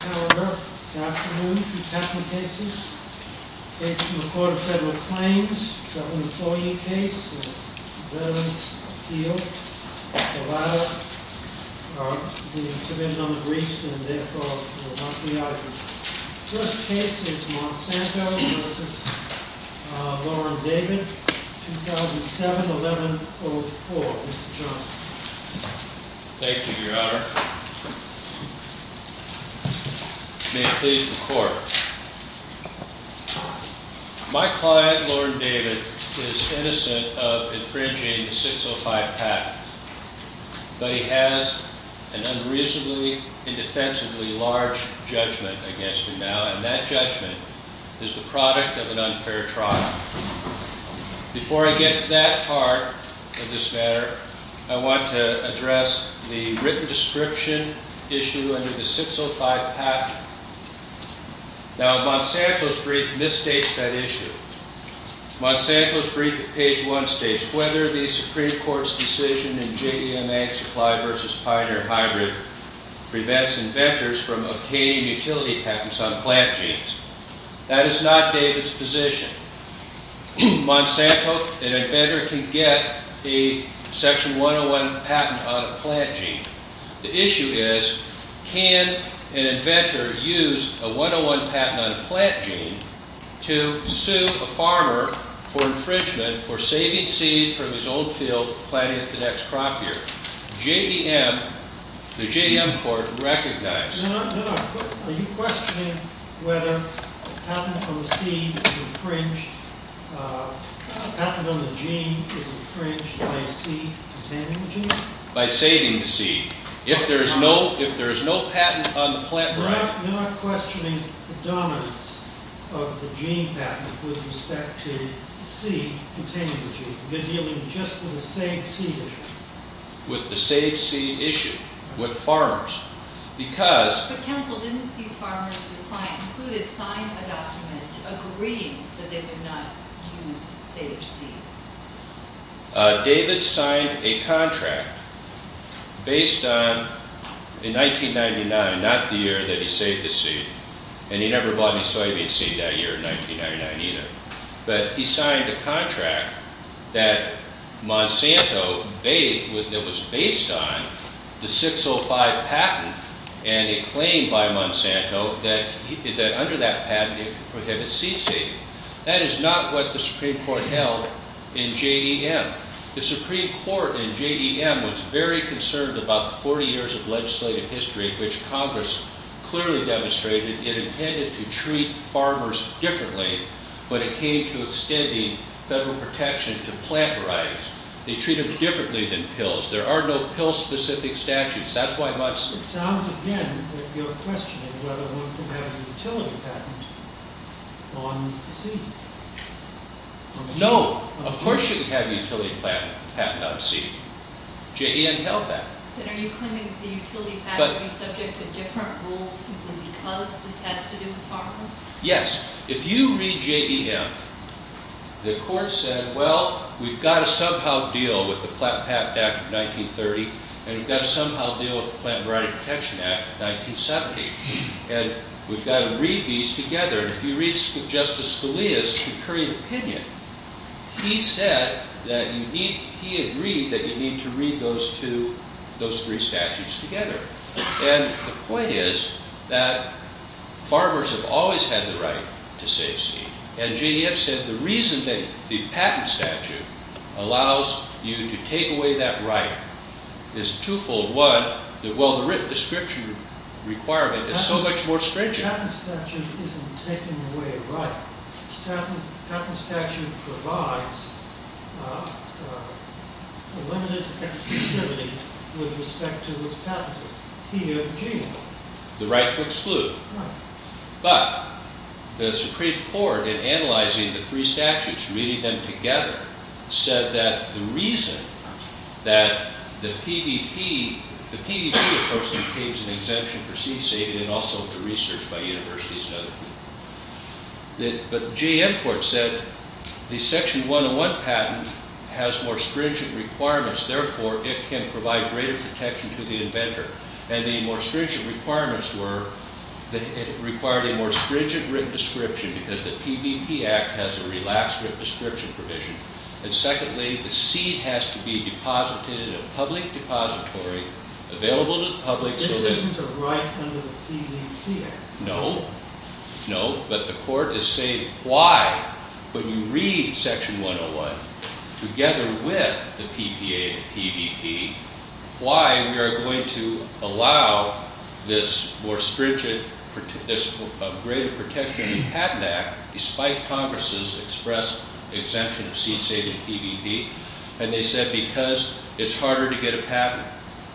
First case is Monsanto v. David, 2007-11-04. Mr. Johnson. Thank you, Your Honor. May it please the Court. My client, Lord David, is innocent of infringing the 605 pact, but he has an unreasonably, indefensibly large judgment against him now, and that judgment is the product of an unfair trial. Before I get to that part of this matter, I want to address the written description issue under the 605 pact. Now, Monsanto's brief misstates that issue. Monsanto's brief at page 1 states, That is not David's position. Monsanto, an inventor, can get a Section 101 patent on a plant gene. The issue is, can an inventor use a 101 patent on a plant gene to sue a farmer for infringement for saving seed from his own field planting the next crop year? J.M., the J.M. Court, recognizes... Your Honor, are you questioning whether a patent on the seed is infringed, a patent on the gene is infringed by a seed containing the gene? By saving the seed. If there is no patent on the plant... Your Honor, you're not questioning the dominance of the gene patent with respect to the seed containing the gene. You're dealing just with the same seed issue. With the saved seed issue. With farmers. Because... But counsel, didn't these farmers, your client included, sign a document agreeing that they would not use saved seed? David signed a contract based on, in 1999, not the year that he saved the seed, and he never bought any soybean seed that year in 1999 either. But he signed a contract that Monsanto, that was based on the 605 patent, and it claimed by Monsanto that under that patent it could prohibit seed saving. That is not what the Supreme Court held in J.M. The Supreme Court in J.M. was very concerned about the 40 years of legislative history in which Congress clearly demonstrated it intended to treat farmers differently, but it came to extending federal protection to plant varieties. They treat them differently than pills. There are no pill-specific statutes. That's why Monsanto... It sounds again that you're questioning whether one could have a utility patent on the seed. No. Of course you could have a utility patent on seed. J.M. held that. Then are you claiming that the utility patent is subject to different rules simply because this has to do with farmers? Yes. If you read J.M., the court said, well, we've got to somehow deal with the Plant Patent Act of 1930, and we've got to somehow deal with the Plant Variety Protection Act of 1970, and we've got to read these together. If you read Justice Scalia's concurring opinion, he agreed that you need to read those three statutes together. The point is that farmers have always had the right to save seed. J.M. said the reason that the patent statute allows you to take away that right is twofold. One, the written description requirement is so much more stringent. The patent statute isn't taking away a right. The patent statute provides a limited exclusivity with respect to what's patented. The right to exclude. But the Supreme Court, in analyzing the three statutes, reading them together, said that the reason that the PVP, the PVP, of course, became an exemption for seed saving and also for research by universities and other people. But J.M. court said the Section 101 patent has more stringent requirements. Therefore, it can provide greater protection to the inventor. And the more stringent requirements were that it required a more stringent written description because the PVP Act has a relaxed written description provision. And secondly, the seed has to be deposited in a public depository available to the public so that This isn't a right under the PVP Act. No. No. But the court is saying why, when you read Section 101, together with the PPA and PVP, why we are going to allow this more stringent, this greater protection of the patent act, despite Congress' express exemption of seed saving and PVP. And they said because it's harder to get a patent.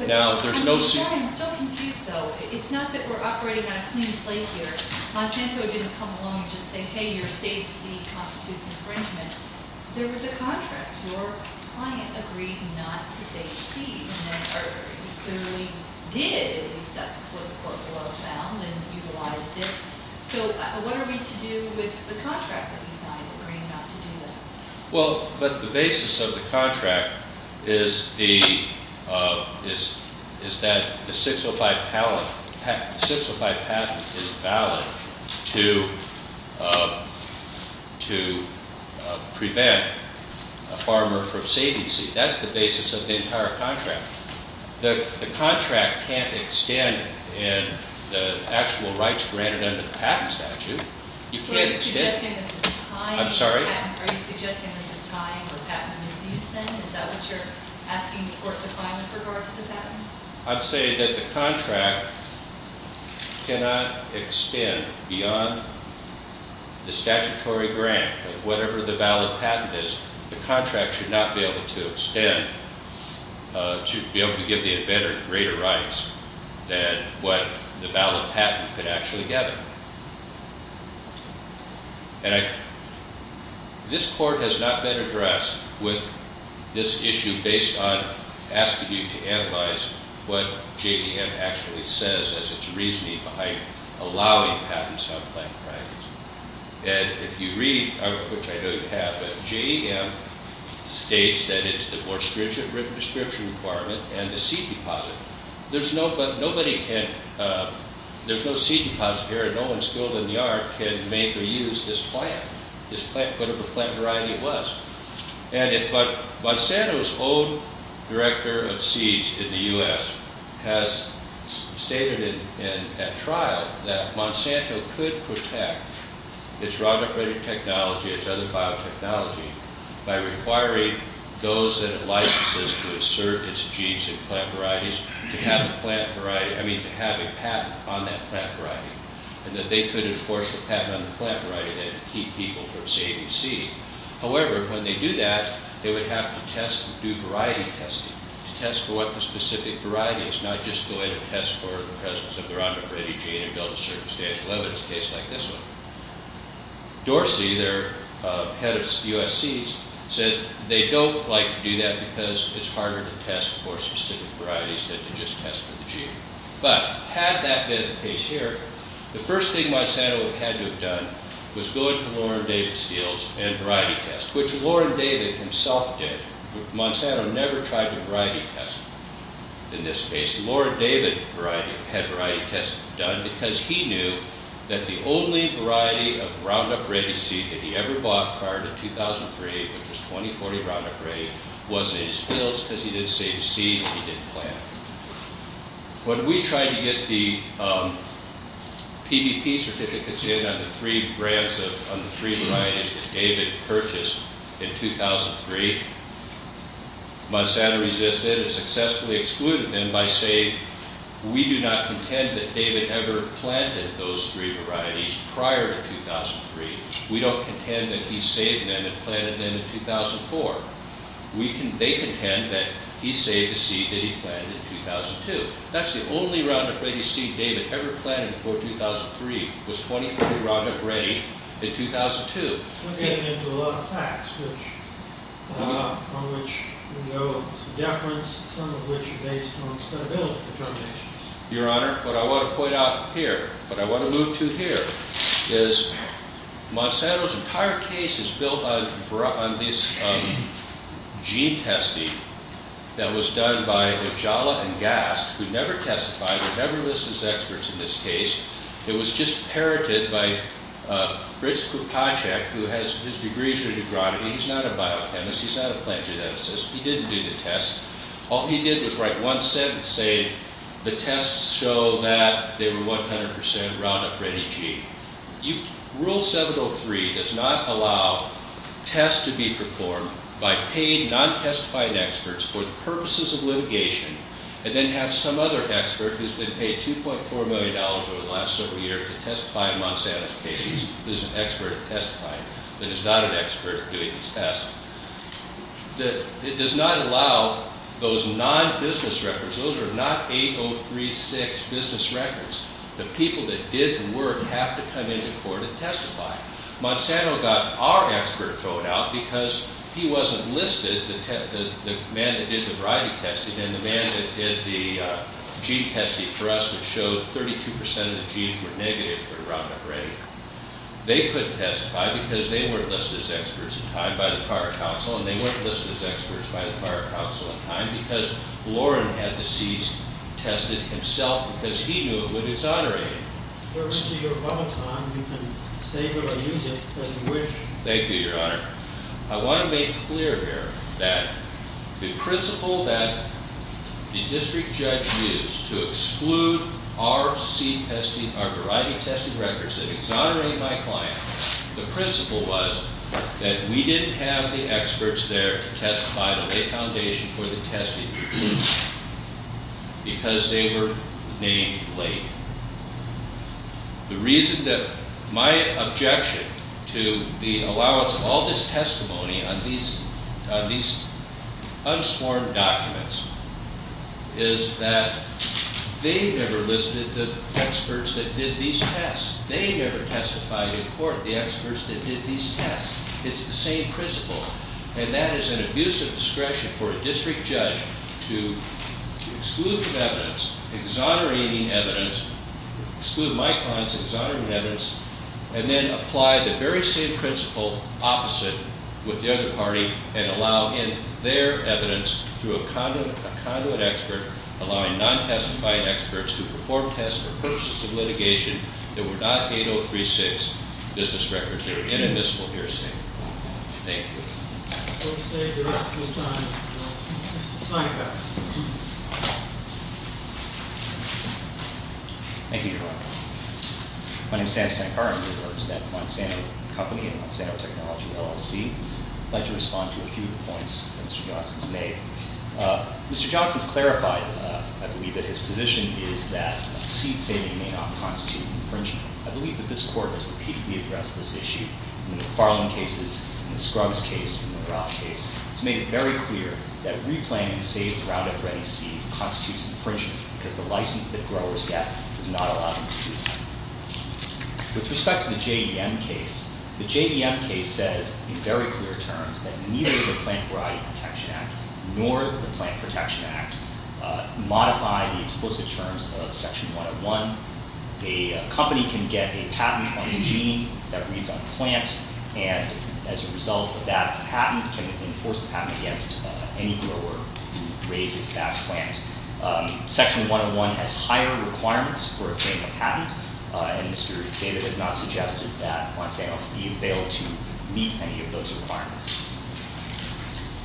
Now, there's no... I'm sorry. I'm still confused, though. It's not that we're operating on a clean slate here. Monsanto didn't come along and just say, hey, your saved seed constitutes infringement. There was a contract. Your client agreed not to save seed. And they clearly did. At least that's what the court of law found and utilized it. So what are we to do with the contract that we signed agreeing not to do that? Well, but the basis of the contract is that the 605 patent is valid to prevent a farmer from saving seed. That's the basis of the entire contract. The contract can't extend in the actual rights granted under the patent statute. You can't extend? Are you suggesting this is tying to a patent? I'm sorry? Are you suggesting this is tying to a patent misuse, then? Is that what you're asking the court to find with regard to the patent? I'm saying that the contract cannot extend beyond the statutory grant of whatever the valid patent is. The contract should not be able to extend to be able to give the inventor greater rights than what the valid patent could actually gather. And this court has not been addressed with this issue based on asking you to analyze what JEM actually says as its reasoning behind allowing patents on plant brackets. And if you read, which I know you have, JEM states that it's the more stringent written description requirement and the seed deposit. There's no seed deposit here. No one skilled in the art can make or use this plant, whatever plant variety it was. And if Monsanto's own director of seeds in the U.S. has stated at trial that Monsanto could protect its rhino-predator technology, its other biotechnology by requiring those that it licenses to assert its genes in plant varieties to have a patent on that plant variety, and that they could enforce the patent on the plant variety that would keep people from saving seed. However, when they do that, they would have to test and do variety testing to test for what the specific variety is, not just going to test for the presence of the rhino-predator gene and build a circumstantial evidence case like this one. Dorsey, their head of U.S. seeds, said they don't like to do that because it's harder to test for specific varieties than to just test for the gene. But had that been the case here, the first thing Monsanto had to have done was go into Lauren David's fields and variety test, which Lauren David himself did. Monsanto never tried the variety test in this case. Lauren David had variety tests done because he knew that the only variety of Roundup Ready seed that he ever bought prior to 2003, which was 2040 Roundup Ready, was in his fields because he didn't save his seed and he didn't plant it. When we tried to get the PVP certificates in on the three varieties that David purchased in 2003, Monsanto resisted and successfully excluded them by saying, we do not contend that David ever planted those three varieties prior to 2003. We don't contend that he saved them and planted them in 2004. They contend that he saved the seed that he planted in 2002. That's the only Roundup Ready seed David ever planted before 2003 was 2040 Roundup Ready in 2002. We're getting into a lot of facts on which we know some deference, some of which are based on credibility determinations. Your Honor, what I want to point out here, what I want to move to here, is Monsanto's entire case is built on this gene testing that was done by Ipjala and Gast. We've never testified, we've never listed as experts in this case. It was just parroted by Fritz Karpacek, who has his degrees in neurology. He's not a biochemist, he's not a plant geneticist. He didn't do the test. All he did was write one sentence saying the tests show that they were 100% Roundup Ready gene. Rule 703 does not allow tests to be performed by paid, non-testifying experts for the purposes of litigation and then have some other expert who's been paid $2.4 million over the last several years to testify in Monsanto's case who's an expert at testifying but is not an expert at doing these tests. It does not allow those non-business records, those are not 8036 business records. The people that did the work have to come into court and testify. Monsanto got our expert thrown out because he wasn't listed, the man that did the variety testing, and the man that did the gene testing for us that showed 32% of the genes were negative for Roundup Ready. They couldn't testify because they weren't listed as experts in time by the Pirate Council and they weren't listed as experts by the Pirate Council in time because Loren had the seeds tested himself because he knew it would exonerate him. If you have a lot of time, you can save it or use it as you wish. Thank you, Your Honor. I want to make clear here that the principle that the district judge used to exclude our seed testing, our variety testing records that exonerated my client, the principle was that we didn't have the experts there to testify to lay foundation for the testing because they were named late. The reason that my objection to the allowance of all this testimony on these unsworn documents is that they never listed the experts that did these tests. They never testified in court, the experts that did these tests. It's the same principle, and that is an abuse of discretion for a district judge to exclude the evidence, exonerating evidence, exclude my client's exonerating evidence, and then apply the very same principle opposite with the other party and allow in their evidence through a conduit expert, allowing non-testifying experts to perform tests for purposes of litigation that were not 8036 business records. They were inadmissible hearsay. Thank you. We'll save the rest of your time. Mr. Sankar. Thank you, Your Honor. My name is Sam Sankar. I'm with the Monsanto Company and Monsanto Technology LLC. I'd like to respond to a few of the points that Mr. Johnson's made. Mr. Johnson's clarified, I believe, that his position is that seed saving may not constitute infringement. I believe that this Court has repeatedly addressed this issue in the Farland cases, in the Scruggs case, in the Winterof case. It's made it very clear that replanting saved, rounded-up, ready seed constitutes infringement because the license that growers get does not allow them to do that. With respect to the JVM case, the JVM case says in very clear terms that neither the Plant Variety Protection Act nor the Plant Protection Act modify the explicit terms of Section 101. A company can get a patent on a gene that reads on a plant, and as a result of that patent can enforce a patent against any grower who raises that plant. Section 101 has higher requirements for obtaining a patent, and Mr. David has not suggested that Monsanto be able to meet any of those requirements.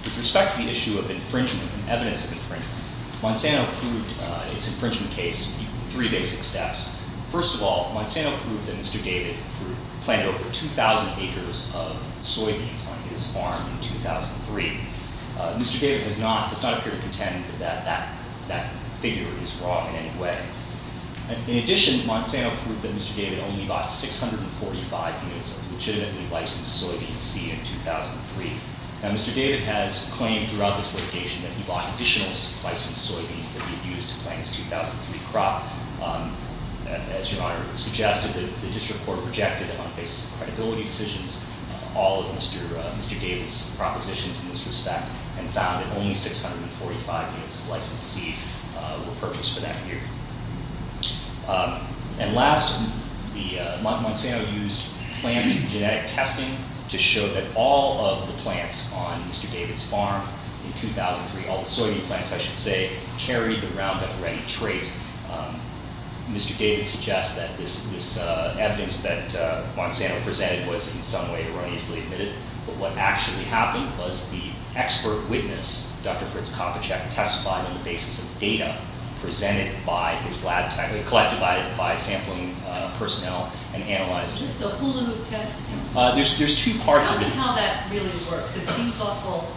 With respect to the issue of infringement and evidence of infringement, Monsanto proved its infringement case in three basic steps. First of all, Monsanto proved that Mr. David planted over 2,000 acres of soybeans on his farm in 2003. Mr. David does not appear to contend that that figure is wrong in any way. In addition, Monsanto proved that Mr. David only bought 645 units of legitimately licensed soybean seed in 2003. Now, Mr. David has claimed throughout this litigation that he bought additional licensed soybeans that he had used to plant his 2003 crop. As Your Honor suggested, the district court rejected it on the basis of credibility decisions, all of Mr. David's propositions in this respect, and found that only 645 units of licensed seed were purchased for that year. And last, Monsanto used plant genetic testing to show that all of the plants on Mr. David's farm in 2003, all the soybean plants, I should say, carried the Roundup Ready trait. Mr. David suggests that this evidence that Monsanto presented was in some way erroneously admitted, but what actually happened was the expert witness, Dr. Fritz Kopitschek, testified on the basis of data collected by sampling personnel and analyzed. Is this the hula hoop testing? There's two parts of it. How that really works, it seems awful.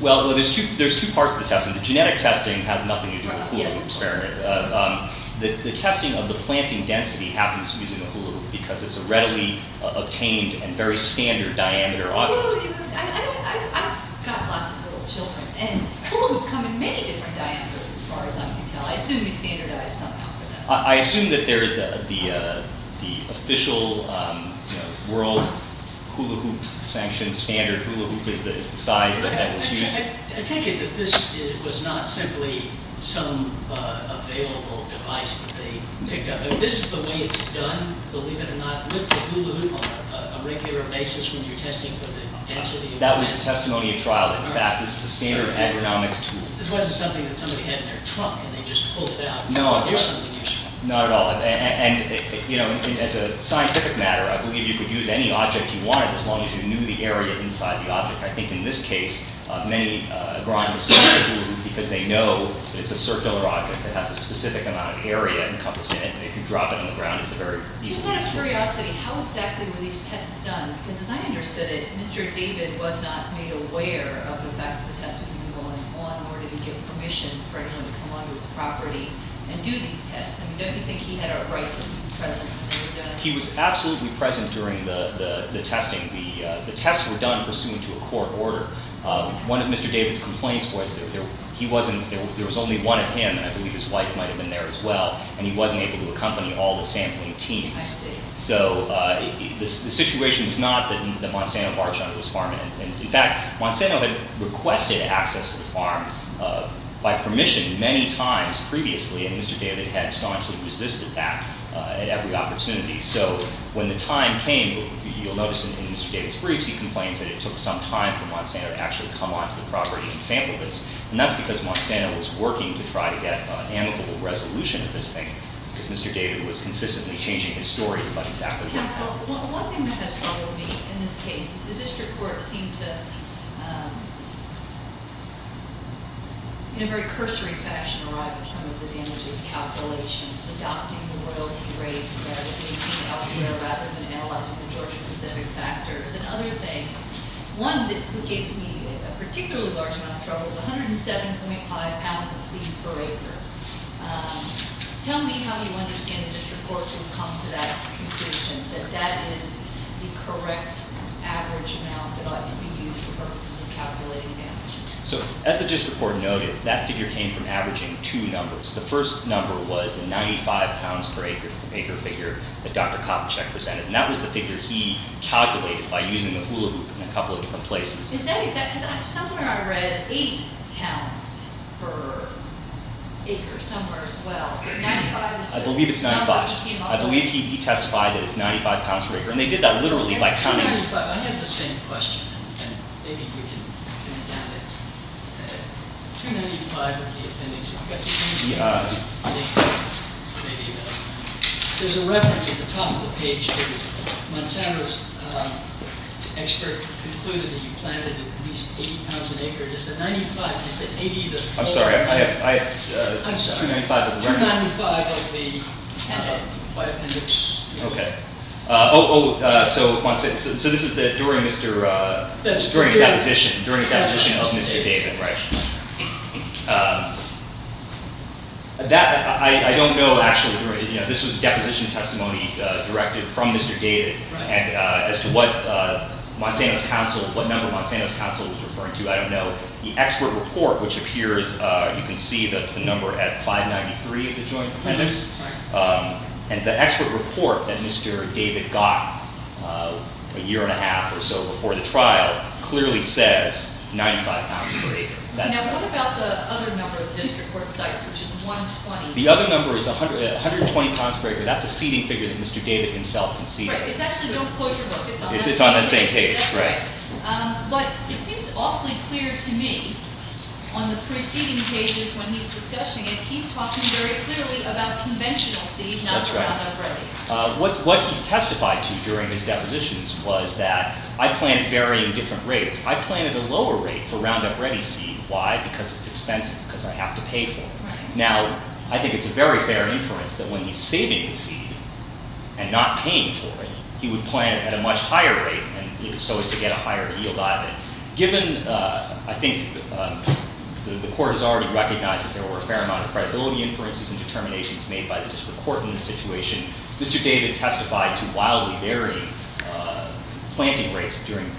Well, there's two parts of the testing. The genetic testing has nothing to do with the hula hoop experiment. The testing of the planting density happens using the hula hoop because it's a readily obtained and very standard diameter object. I've got lots of little children, and hula hoops come in many different diameters as far as I can tell. I assume you standardize somehow for them. I assume that there is the official world hula hoop sanction standard. Hula hoop is the size that was used. I take it that this was not simply some available device that they picked up. This is the way it's done, believe it or not, with the hula hoop on a regular basis when you're testing for the density. That was the testimony of trial. In fact, this is a standard agronomic tool. This wasn't something that somebody had in their trunk, and they just pulled it out. No, not at all. As a scientific matter, I believe you could use any object you wanted as long as you knew the area inside the object. I think in this case, many agronomists do because they know it's a circular object that has a specific amount of area encompassed in it. If you drop it on the ground, it's a very easy thing to do. Just out of curiosity, how exactly were these tests done? As I understood it, Mr. David was not made aware of the fact that the test was even going on. Or did he get permission for anyone to come onto his property and do these tests? Don't you think he had a right to be present? He was absolutely present during the testing. The tests were done pursuant to a court order. One of Mr. David's complaints was there was only one of him, and I believe his wife might have been there as well, and he wasn't able to accompany all the sampling teams. The situation was not that Monsanto marched onto his farm. In fact, Monsanto had requested access to the farm by permission many times previously, and Mr. David had staunchly resisted that at every opportunity. When the time came, you'll notice in Mr. David's briefs, he complains that it took some time for Monsanto to actually come onto the property and sample this. And that's because Monsanto was working to try to get an amicable resolution of this thing, because Mr. David was consistently changing his stories about exactly what happened. Counsel, one thing that has troubled me in this case is the district court seemed to, in a very cursory fashion, arrive at some of the damages calculations, adopting the royalty rate rather than being elsewhere, rather than analyzing the Georgia-Pacific factors and other things. One that gave me a particularly large amount of trouble is 107.5 pounds of seed per acre. Tell me how you understand the district court to come to that conclusion, that that is the correct average amount that ought to be used for purposes of calculating damages. So, as the district court noted, that figure came from averaging two numbers. The first number was the 95 pounds per acre figure that Dr. Kopchick presented, and that was the figure he calculated by using the hula hoop in a couple of different places. Is that exact? Because somewhere I read 8 pounds per acre somewhere as well. I believe it's 95. I believe he testified that it's 95 pounds per acre. And they did that literally by counting... I had the same question, and maybe you can comment on it. 295 of the appendix... There's a reference at the top of the page to... Monsanto's expert concluded that you planted at least 80 pounds per acre. Is the 95, is the 80 the... I'm sorry, I... I'm sorry. 295 of the appendix... Oh, so this is during the deposition of Mr. David, right? I don't know actually... This was a deposition testimony directed from Mr. David, and as to what number Monsanto's counsel was referring to, I don't know. The expert report, which appears... You can see the number at 593 of the joint appendix. And the expert report that Mr. David got a year and a half or so before the trial clearly says 95 pounds per acre. Now, what about the other number of district court sites, which is 120? The other number is 120 pounds per acre. That's a seating figure that Mr. David himself conceded. Right, it's actually, don't quote your book, it's on that same page. It's on that same page, right. But it seems awfully clear to me on the preceding pages when he's discussing it, that he's talking very clearly about conventional seed, not the Roundup Ready. What he testified to during his depositions was that, I plant at varying different rates. I plant at a lower rate for Roundup Ready seed. Why? Because it's expensive, because I have to pay for it. Now, I think it's a very fair inference that when he's saving the seed and not paying for it, he would plant at a much higher rate, so as to get a higher yield out of it. Given, I think the court has already recognized that there were a fair amount of credibility inferences and determinations made by the district court in this situation, Mr. David testified to wildly varying planting rates during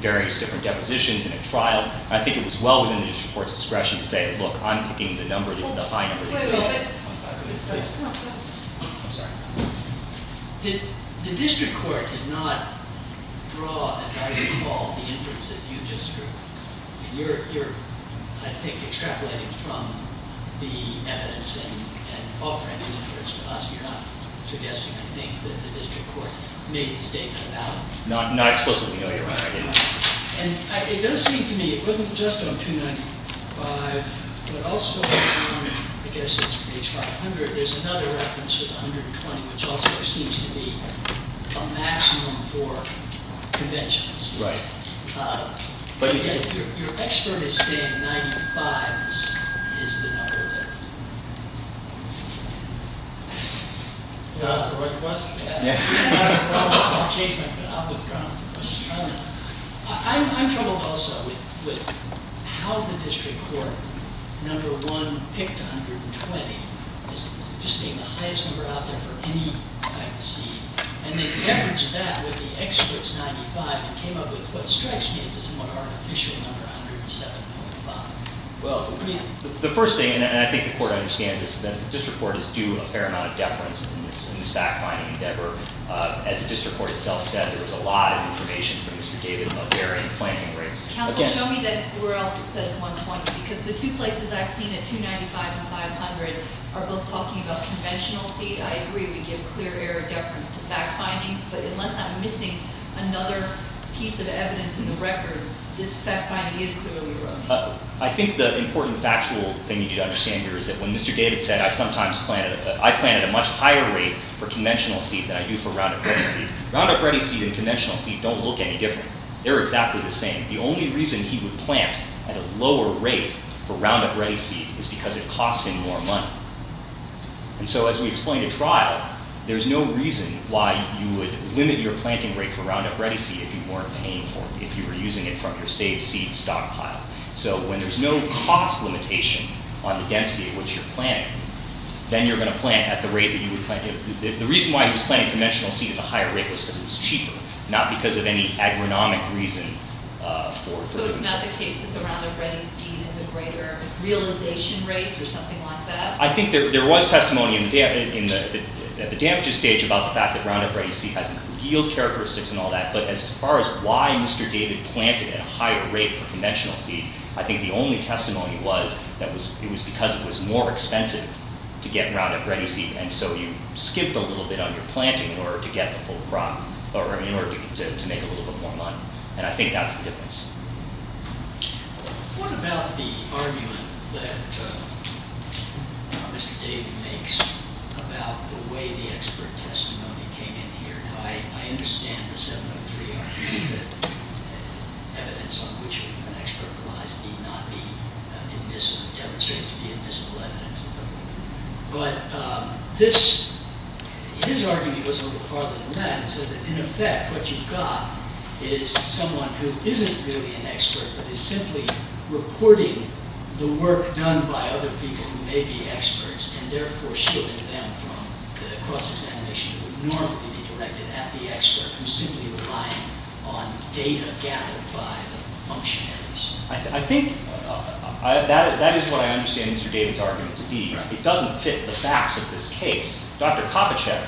various different depositions in a trial. I think it was well within the district court's discretion to say, look, I'm picking the number, the high number. I'm sorry. The district court did not draw, as I recall, the inference that you just drew. You're, I think, extrapolating from the evidence and offering the inference to us. You're not suggesting, I think, that the district court made the statement about it. Not explicitly, no, Your Honor. And it does seem to me, it wasn't just on 295, but also on, I guess it's page 500, there's another reference to 120, which also seems to be a maximum for conventions. Right. But your expert is saying 95 is the number that... Did I ask the right question? Yeah. I'm troubled also with how the district court number one picked 120 as just being the highest number out there for any kind of seed. And they leveraged that with the expert's 95 and came up with what strikes me as this more artificial number, 107.5. Well, the first thing, and I think the court understands this, is that the district court is due a fair amount of deference in this fact-finding endeavor. As the district court itself said, there was a lot of information from Mr. David about varying planting rates. Counsel, show me where else it says 120, because the two places I've seen it, 295 and 500, are both talking about conventional seed. I agree we give clear air deference to fact-findings, but unless I'm missing another piece of evidence in the record, this fact-finding is clearly wrong. I think the important factual thing you need to understand here is that when Mr. David said, I sometimes plant at a much higher rate for conventional seed than I do for Roundup Ready seed. Roundup Ready seed and conventional seed don't look any different. They're exactly the same. The only reason he would plant at a lower rate for Roundup Ready seed is because it costs him more money. And so as we explained at trial, there's no reason why you would limit your planting rate for Roundup Ready seed if you weren't paying for it, if you were using it from your saved seed stockpile. So when there's no cost limitation on the density at which you're planting, then you're going to plant at the rate that you would plant. The reason why he was planting conventional seed at a higher rate was because it was cheaper, not because of any agronomic reason. So it's not the case that the Roundup Ready seed has a greater realization rate or something like that? I think there was testimony at the damages stage about the fact that Roundup Ready seed has revealed characteristics and all that, but as far as why Mr. David planted at a higher rate for conventional seed, I think the only testimony was that it was because it was more expensive to get Roundup Ready seed, and so you skipped a little bit on your planting in order to get the full crop, or in order to make a little bit more money. And I think that's the difference. What about the argument that Mr. David makes about the way the expert testimony came in here? Now, I understand the 703 argument, that evidence on which an expert relies need not be demonstrated to be invisible evidence. But his argument goes a little farther than that. It says that in effect, what you've got is someone who isn't really an expert, but is simply reporting the work done by other people who may be experts, and therefore shielding them from the process animation that would normally be directed at the expert who's simply relying on data gathered by the functionaries. I think that is what I understand Mr. David's argument. It doesn't fit the facts of this case. Dr. Kopitschek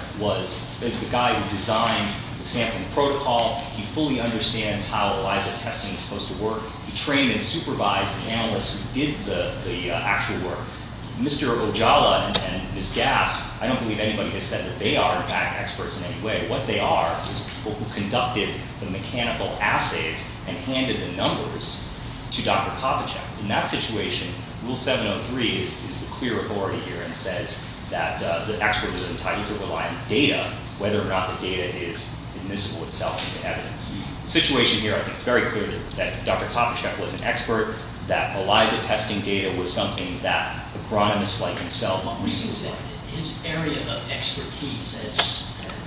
is the guy who designed the sampling protocol. He fully understands how ELISA testing is supposed to work. He trained and supervised the analysts who did the actual work. Mr. Ojala and Ms. Gast, I don't believe anybody has said that they are, in fact, experts in any way. What they are is people who conducted the mechanical assays and handed the numbers to Dr. Kopitschek. In that situation, Rule 703 is the clear authority here and says that the expert is entitled to rely on data whether or not the data is admissible itself into evidence. The situation here, I think it's very clear that Dr. Kopitschek was an expert, that ELISA testing data was something that agronomists like himself reasoned for. His area of expertise,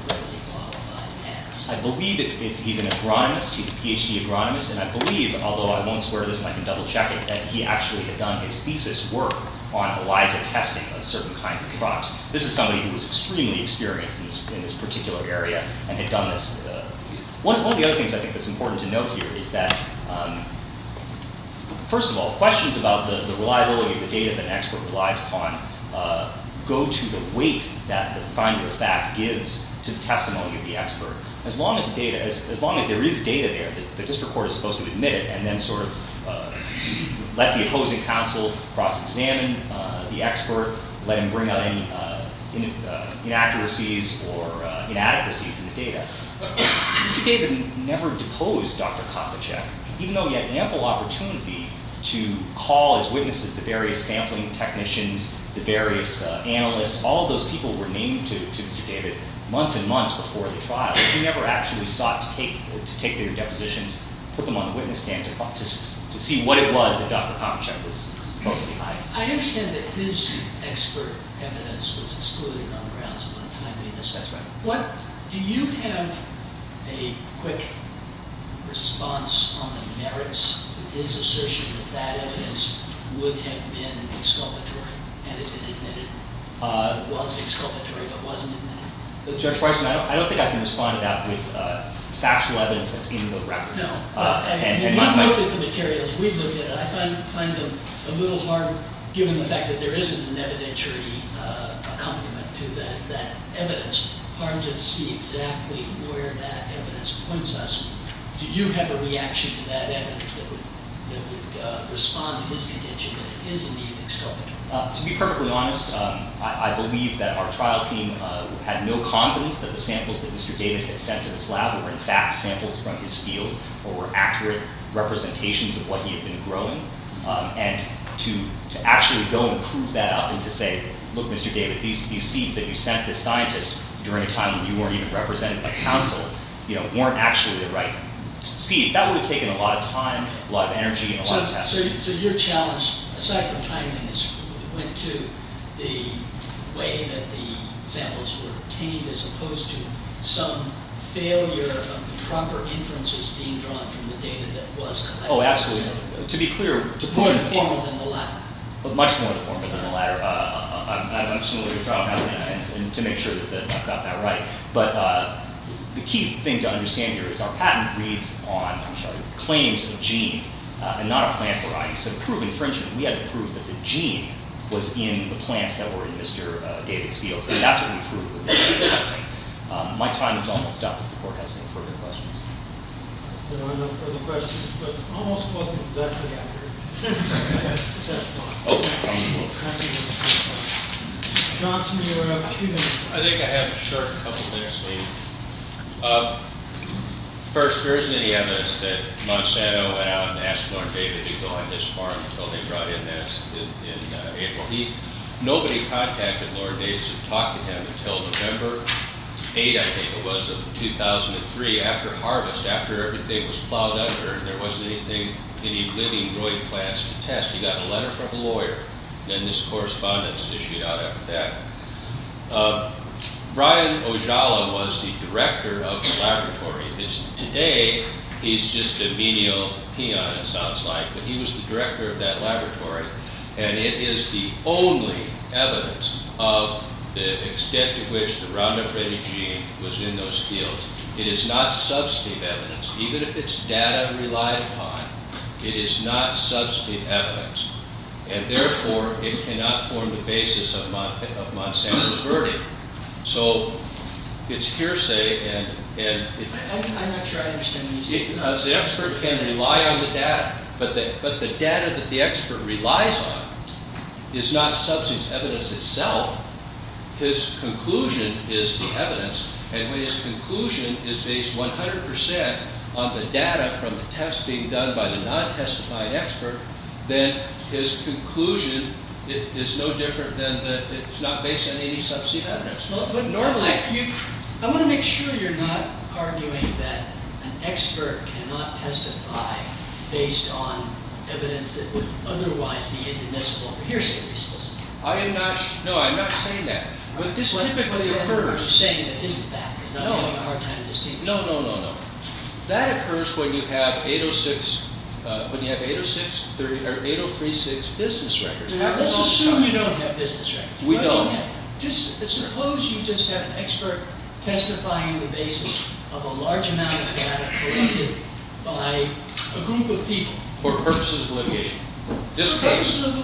what does he qualify as? I believe he's an agronomist. He's a PhD agronomist, and I believe, although I won't square this, and I can double check it, that he actually had done his thesis work on ELISA testing of certain kinds of crops. This is somebody who was extremely experienced in this particular area and had done this. One of the other things I think that's important to note here is that, first of all, questions about the reliability of the data that an expert relies upon go to the weight that the finder of fact gives to the testimony of the expert. As long as there is data there, the district court is supposed to admit it and then sort of let the opposing counsel cross-examine the expert, let him bring out any inaccuracies or inadequacies in the data. Mr. David never deposed Dr. Kopitschek, even though he had ample opportunity to call his witnesses, the various sampling technicians, the various analysts. All those people were named to Mr. David months and months before the trial. He never actually sought to take their depositions, put them on the witness stand to see what it was that Dr. Kopitschek was supposed to be hiding. I understand that his expert evidence was excluded on grounds of untimely innocence. That's right. Do you have a quick response on the merits to his assertion that that evidence would have been exculpatory and if it didn't, it was exculpatory, but wasn't admitted? Judge Parson, I don't think I can respond to that with factual evidence that's in the record. No. We've looked at the materials. We've looked at it. I find them a little hard, given the fact that there isn't an evidentiary accompaniment to that evidence. Hard to see exactly where that evidence points us. Do you have a reaction to that evidence that would respond to his contention that it is indeed exculpatory? To be perfectly honest, I believe that our trial team had no confidence that the samples that Mr. David had sent to this lab were in fact samples from his field or were accurate representations of what he had been growing. And to actually go and prove that up and to say, look, Mr. David, these seeds that you sent this scientist during a time when you weren't even represented by counsel weren't actually the right seeds, that would have taken a lot of time, a lot of energy, and a lot of testing. So your challenge, aside from timing, went to the way that the samples were obtained as opposed to some failure of the proper inferences being drawn from the data that was collected. Oh, absolutely. To be clear... Much more informal than the latter. Much more informal than the latter. I'm still going to try to make sure that I've got that right. But the key thing to understand here is our patent reads on claims of gene and not a plant variety. So to prove infringement, we had to prove that the gene was in the plants that were in Mr. David's field. That's what we proved with the genetic testing. My time is almost up if the court has any further questions. There are no further questions, but almost wasn't exactly accurate. Johnson, you're up. I think I have a short couple minutes left. First, there isn't any evidence that Monsanto went out and asked Lord David to go on this farm until they brought in this in April. Nobody contacted Lord David to talk to him until November 8, I think it was, of 2003 after harvest, after everything was plowed under and there wasn't anything, any living droid plants to test. He got a letter from a lawyer and this correspondence issued out after that. Brian Ojala was the director of the laboratory. Today, he's just a menial peon, it sounds like, but he was the director of that laboratory and it is the only evidence of the extent to which the Roundup Ready gene was in those fields. It is not substantive evidence. Even if it's data relied upon, it is not substantive evidence and therefore, it cannot form the basis of Monsanto's verdict. So, it's hearsay and... I'm not sure I understand what you're saying. The expert can rely on the data, but the data that the expert relies on is not substantive evidence itself. His conclusion is the evidence and when his conclusion is based 100% on the data from the tests being done by the non-testified expert, then his conclusion is no different than that it's not based on any substantive evidence. Normally, I want to make sure you're not arguing that an expert cannot testify based on evidence that would otherwise be inadmissible for hearsay reasons. I am not... No, I'm not saying that. But this typically occurs... You're saying it isn't that. No. I'm having a hard time distinguishing. No, no, no, no. That occurs when you have 806... when you have 806... or 8036 business records. Let's assume you don't have business records. We don't. Suppose you just have an expert testifying on the basis of a large amount of data collected by a group of people. For purposes of litigation. For purposes of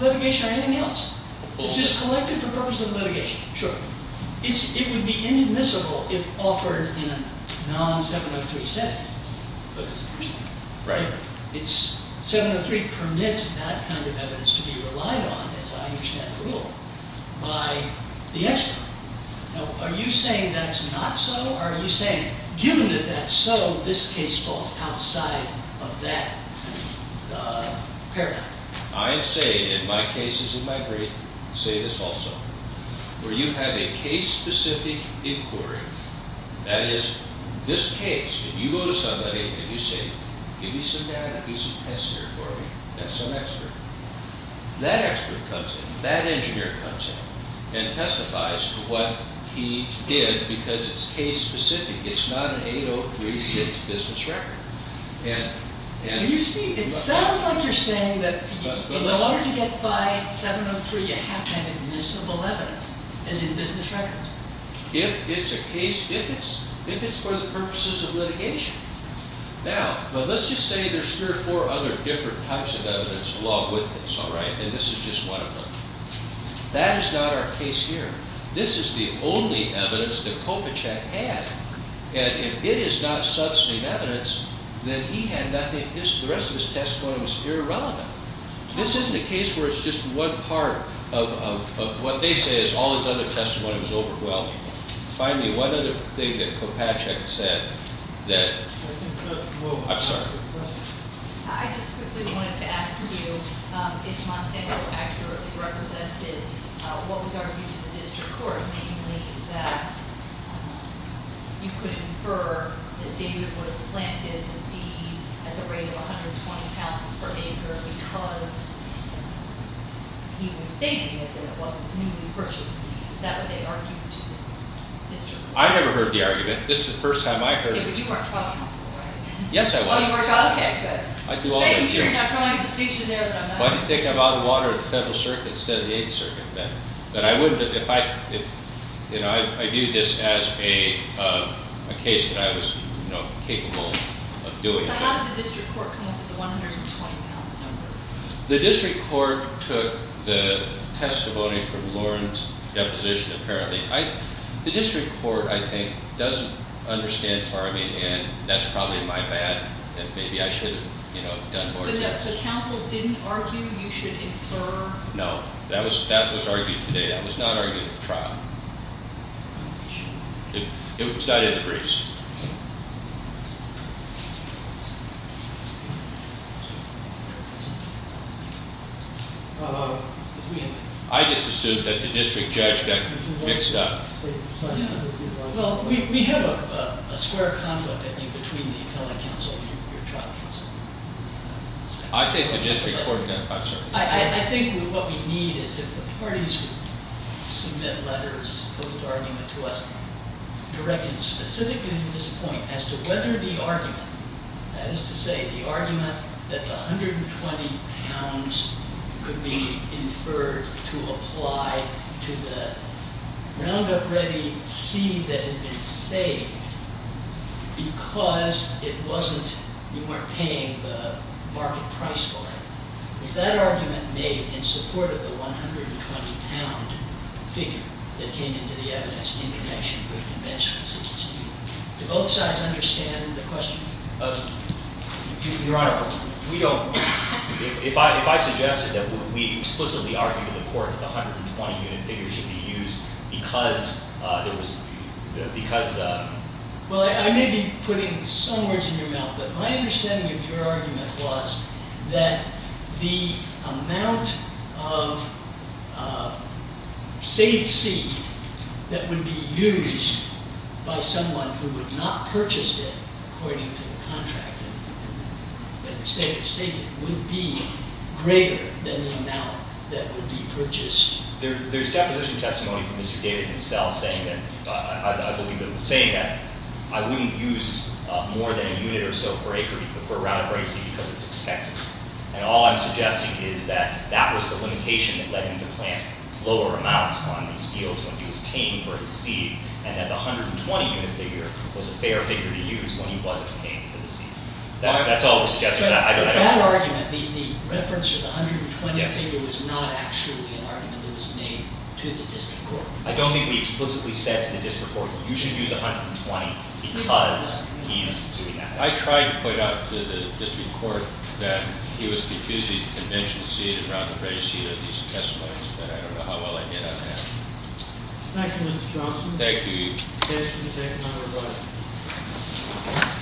litigation. Anything else? Just collected for purposes of litigation. Sure. It would be inadmissible if offered in a non-703 setting. Right? 703 permits that kind of evidence to be relied on, as I understand the rule, by the expert. Now, are you saying that's not so? Or are you saying, given that that's so, this case falls outside of that paradigm? I say, in my cases in my brief, say this also. Where you have a case-specific inquiry, that is, this case, you go to somebody and you say, give me some data, give me some test here for me, that's some expert. That expert comes in. That engineer comes in and testifies to what he did because it's case-specific. It's not an 8036 business record. You see, it sounds like you're saying that in order to get by 703, you have to have admissible evidence, as in business records. If it's a case, if it's, if it's for the purposes of litigation. Now, let's just say there's three or four other different types of evidence along with this, all right, and this is just one of them. That is not our case here. This is the only evidence that Kopachek had. And if it is not substantive evidence, then he had nothing, the rest of his testimony was irrelevant. This isn't a case where it's just one part of what they say is all his other testimony was over. Well, finally, one other thing that Kopachek said, that, I'm sorry. I just quickly wanted to ask you if Monsanto accurately represented what was argued in the district court, namely that you could infer that David would have planted the seed at the rate of 120 pounds per acre because he was stating that it wasn't newly purchased seed. Is that what they argued to the district court? I never heard the argument. This is the first time I heard it. David, you weren't trial counsel, right? Yes, I was. Oh, you weren't trial counsel, okay, good. I do all my hearings. Hey, you're not drawing a distinction there, but I'm not. Why do you think I bought water at the Federal Circuit instead of the Eighth Circuit then? I viewed this as a case that I was capable of doing. So how did the district court come up with the 120 pounds number? The district court took the testimony from Lauren's deposition, apparently. The district court, I think, doesn't understand farming, and that's probably my bad, and maybe I should have done more. So counsel didn't argue you should infer? No, that was argued today. That was not argued at the trial. It was not in the briefs. I just assumed that the district judge got mixed up. Well, we have a square conflict, I think, between the appellate counsel and your trial counsel. I think the district court got mixed up. I think what we need is if the parties who submit letters post-argument to us directed specifically to this point as to whether the argument, that is to say, the argument that the 120 pounds could be inferred to apply to the Roundup Ready C that had been saved because you weren't paying the market price for it. Is that argument made in support of the 120-pound figure that came into the evidence in connection with the bench constituency? Do both sides understand the question? Your Honor, we don't. If I suggested that we explicitly argued in the court that the 120-unit figure should be used because there was, because. Well, I may be putting some words in your mouth, but my understanding of your argument was that the amount of saved seed that would be used by someone who would not purchase it according to the contract would be greater than the amount that would be purchased. There's deposition testimony from Mr. David himself saying that I wouldn't use more than a unit or so per acre for Roundup Ready C because it's expensive. And all I'm suggesting is that that was the limitation that led him to plant lower amounts on these fields when he was paying for his seed and that the 120-unit figure was a fair figure to use when he wasn't paying for the seed. That's all we're suggesting. But that argument, the reference to the 120 figure was not actually an argument that was made to the district court. I don't think we explicitly said to the district court you should use 120 because he's doing that. I tried to point out to the district court that he was confusing the convention seed and Roundup Ready C to these testimonies, but I don't know how well I did on that. Thank you, Mr. Johnston. Thank you. Can I ask you to take another vote?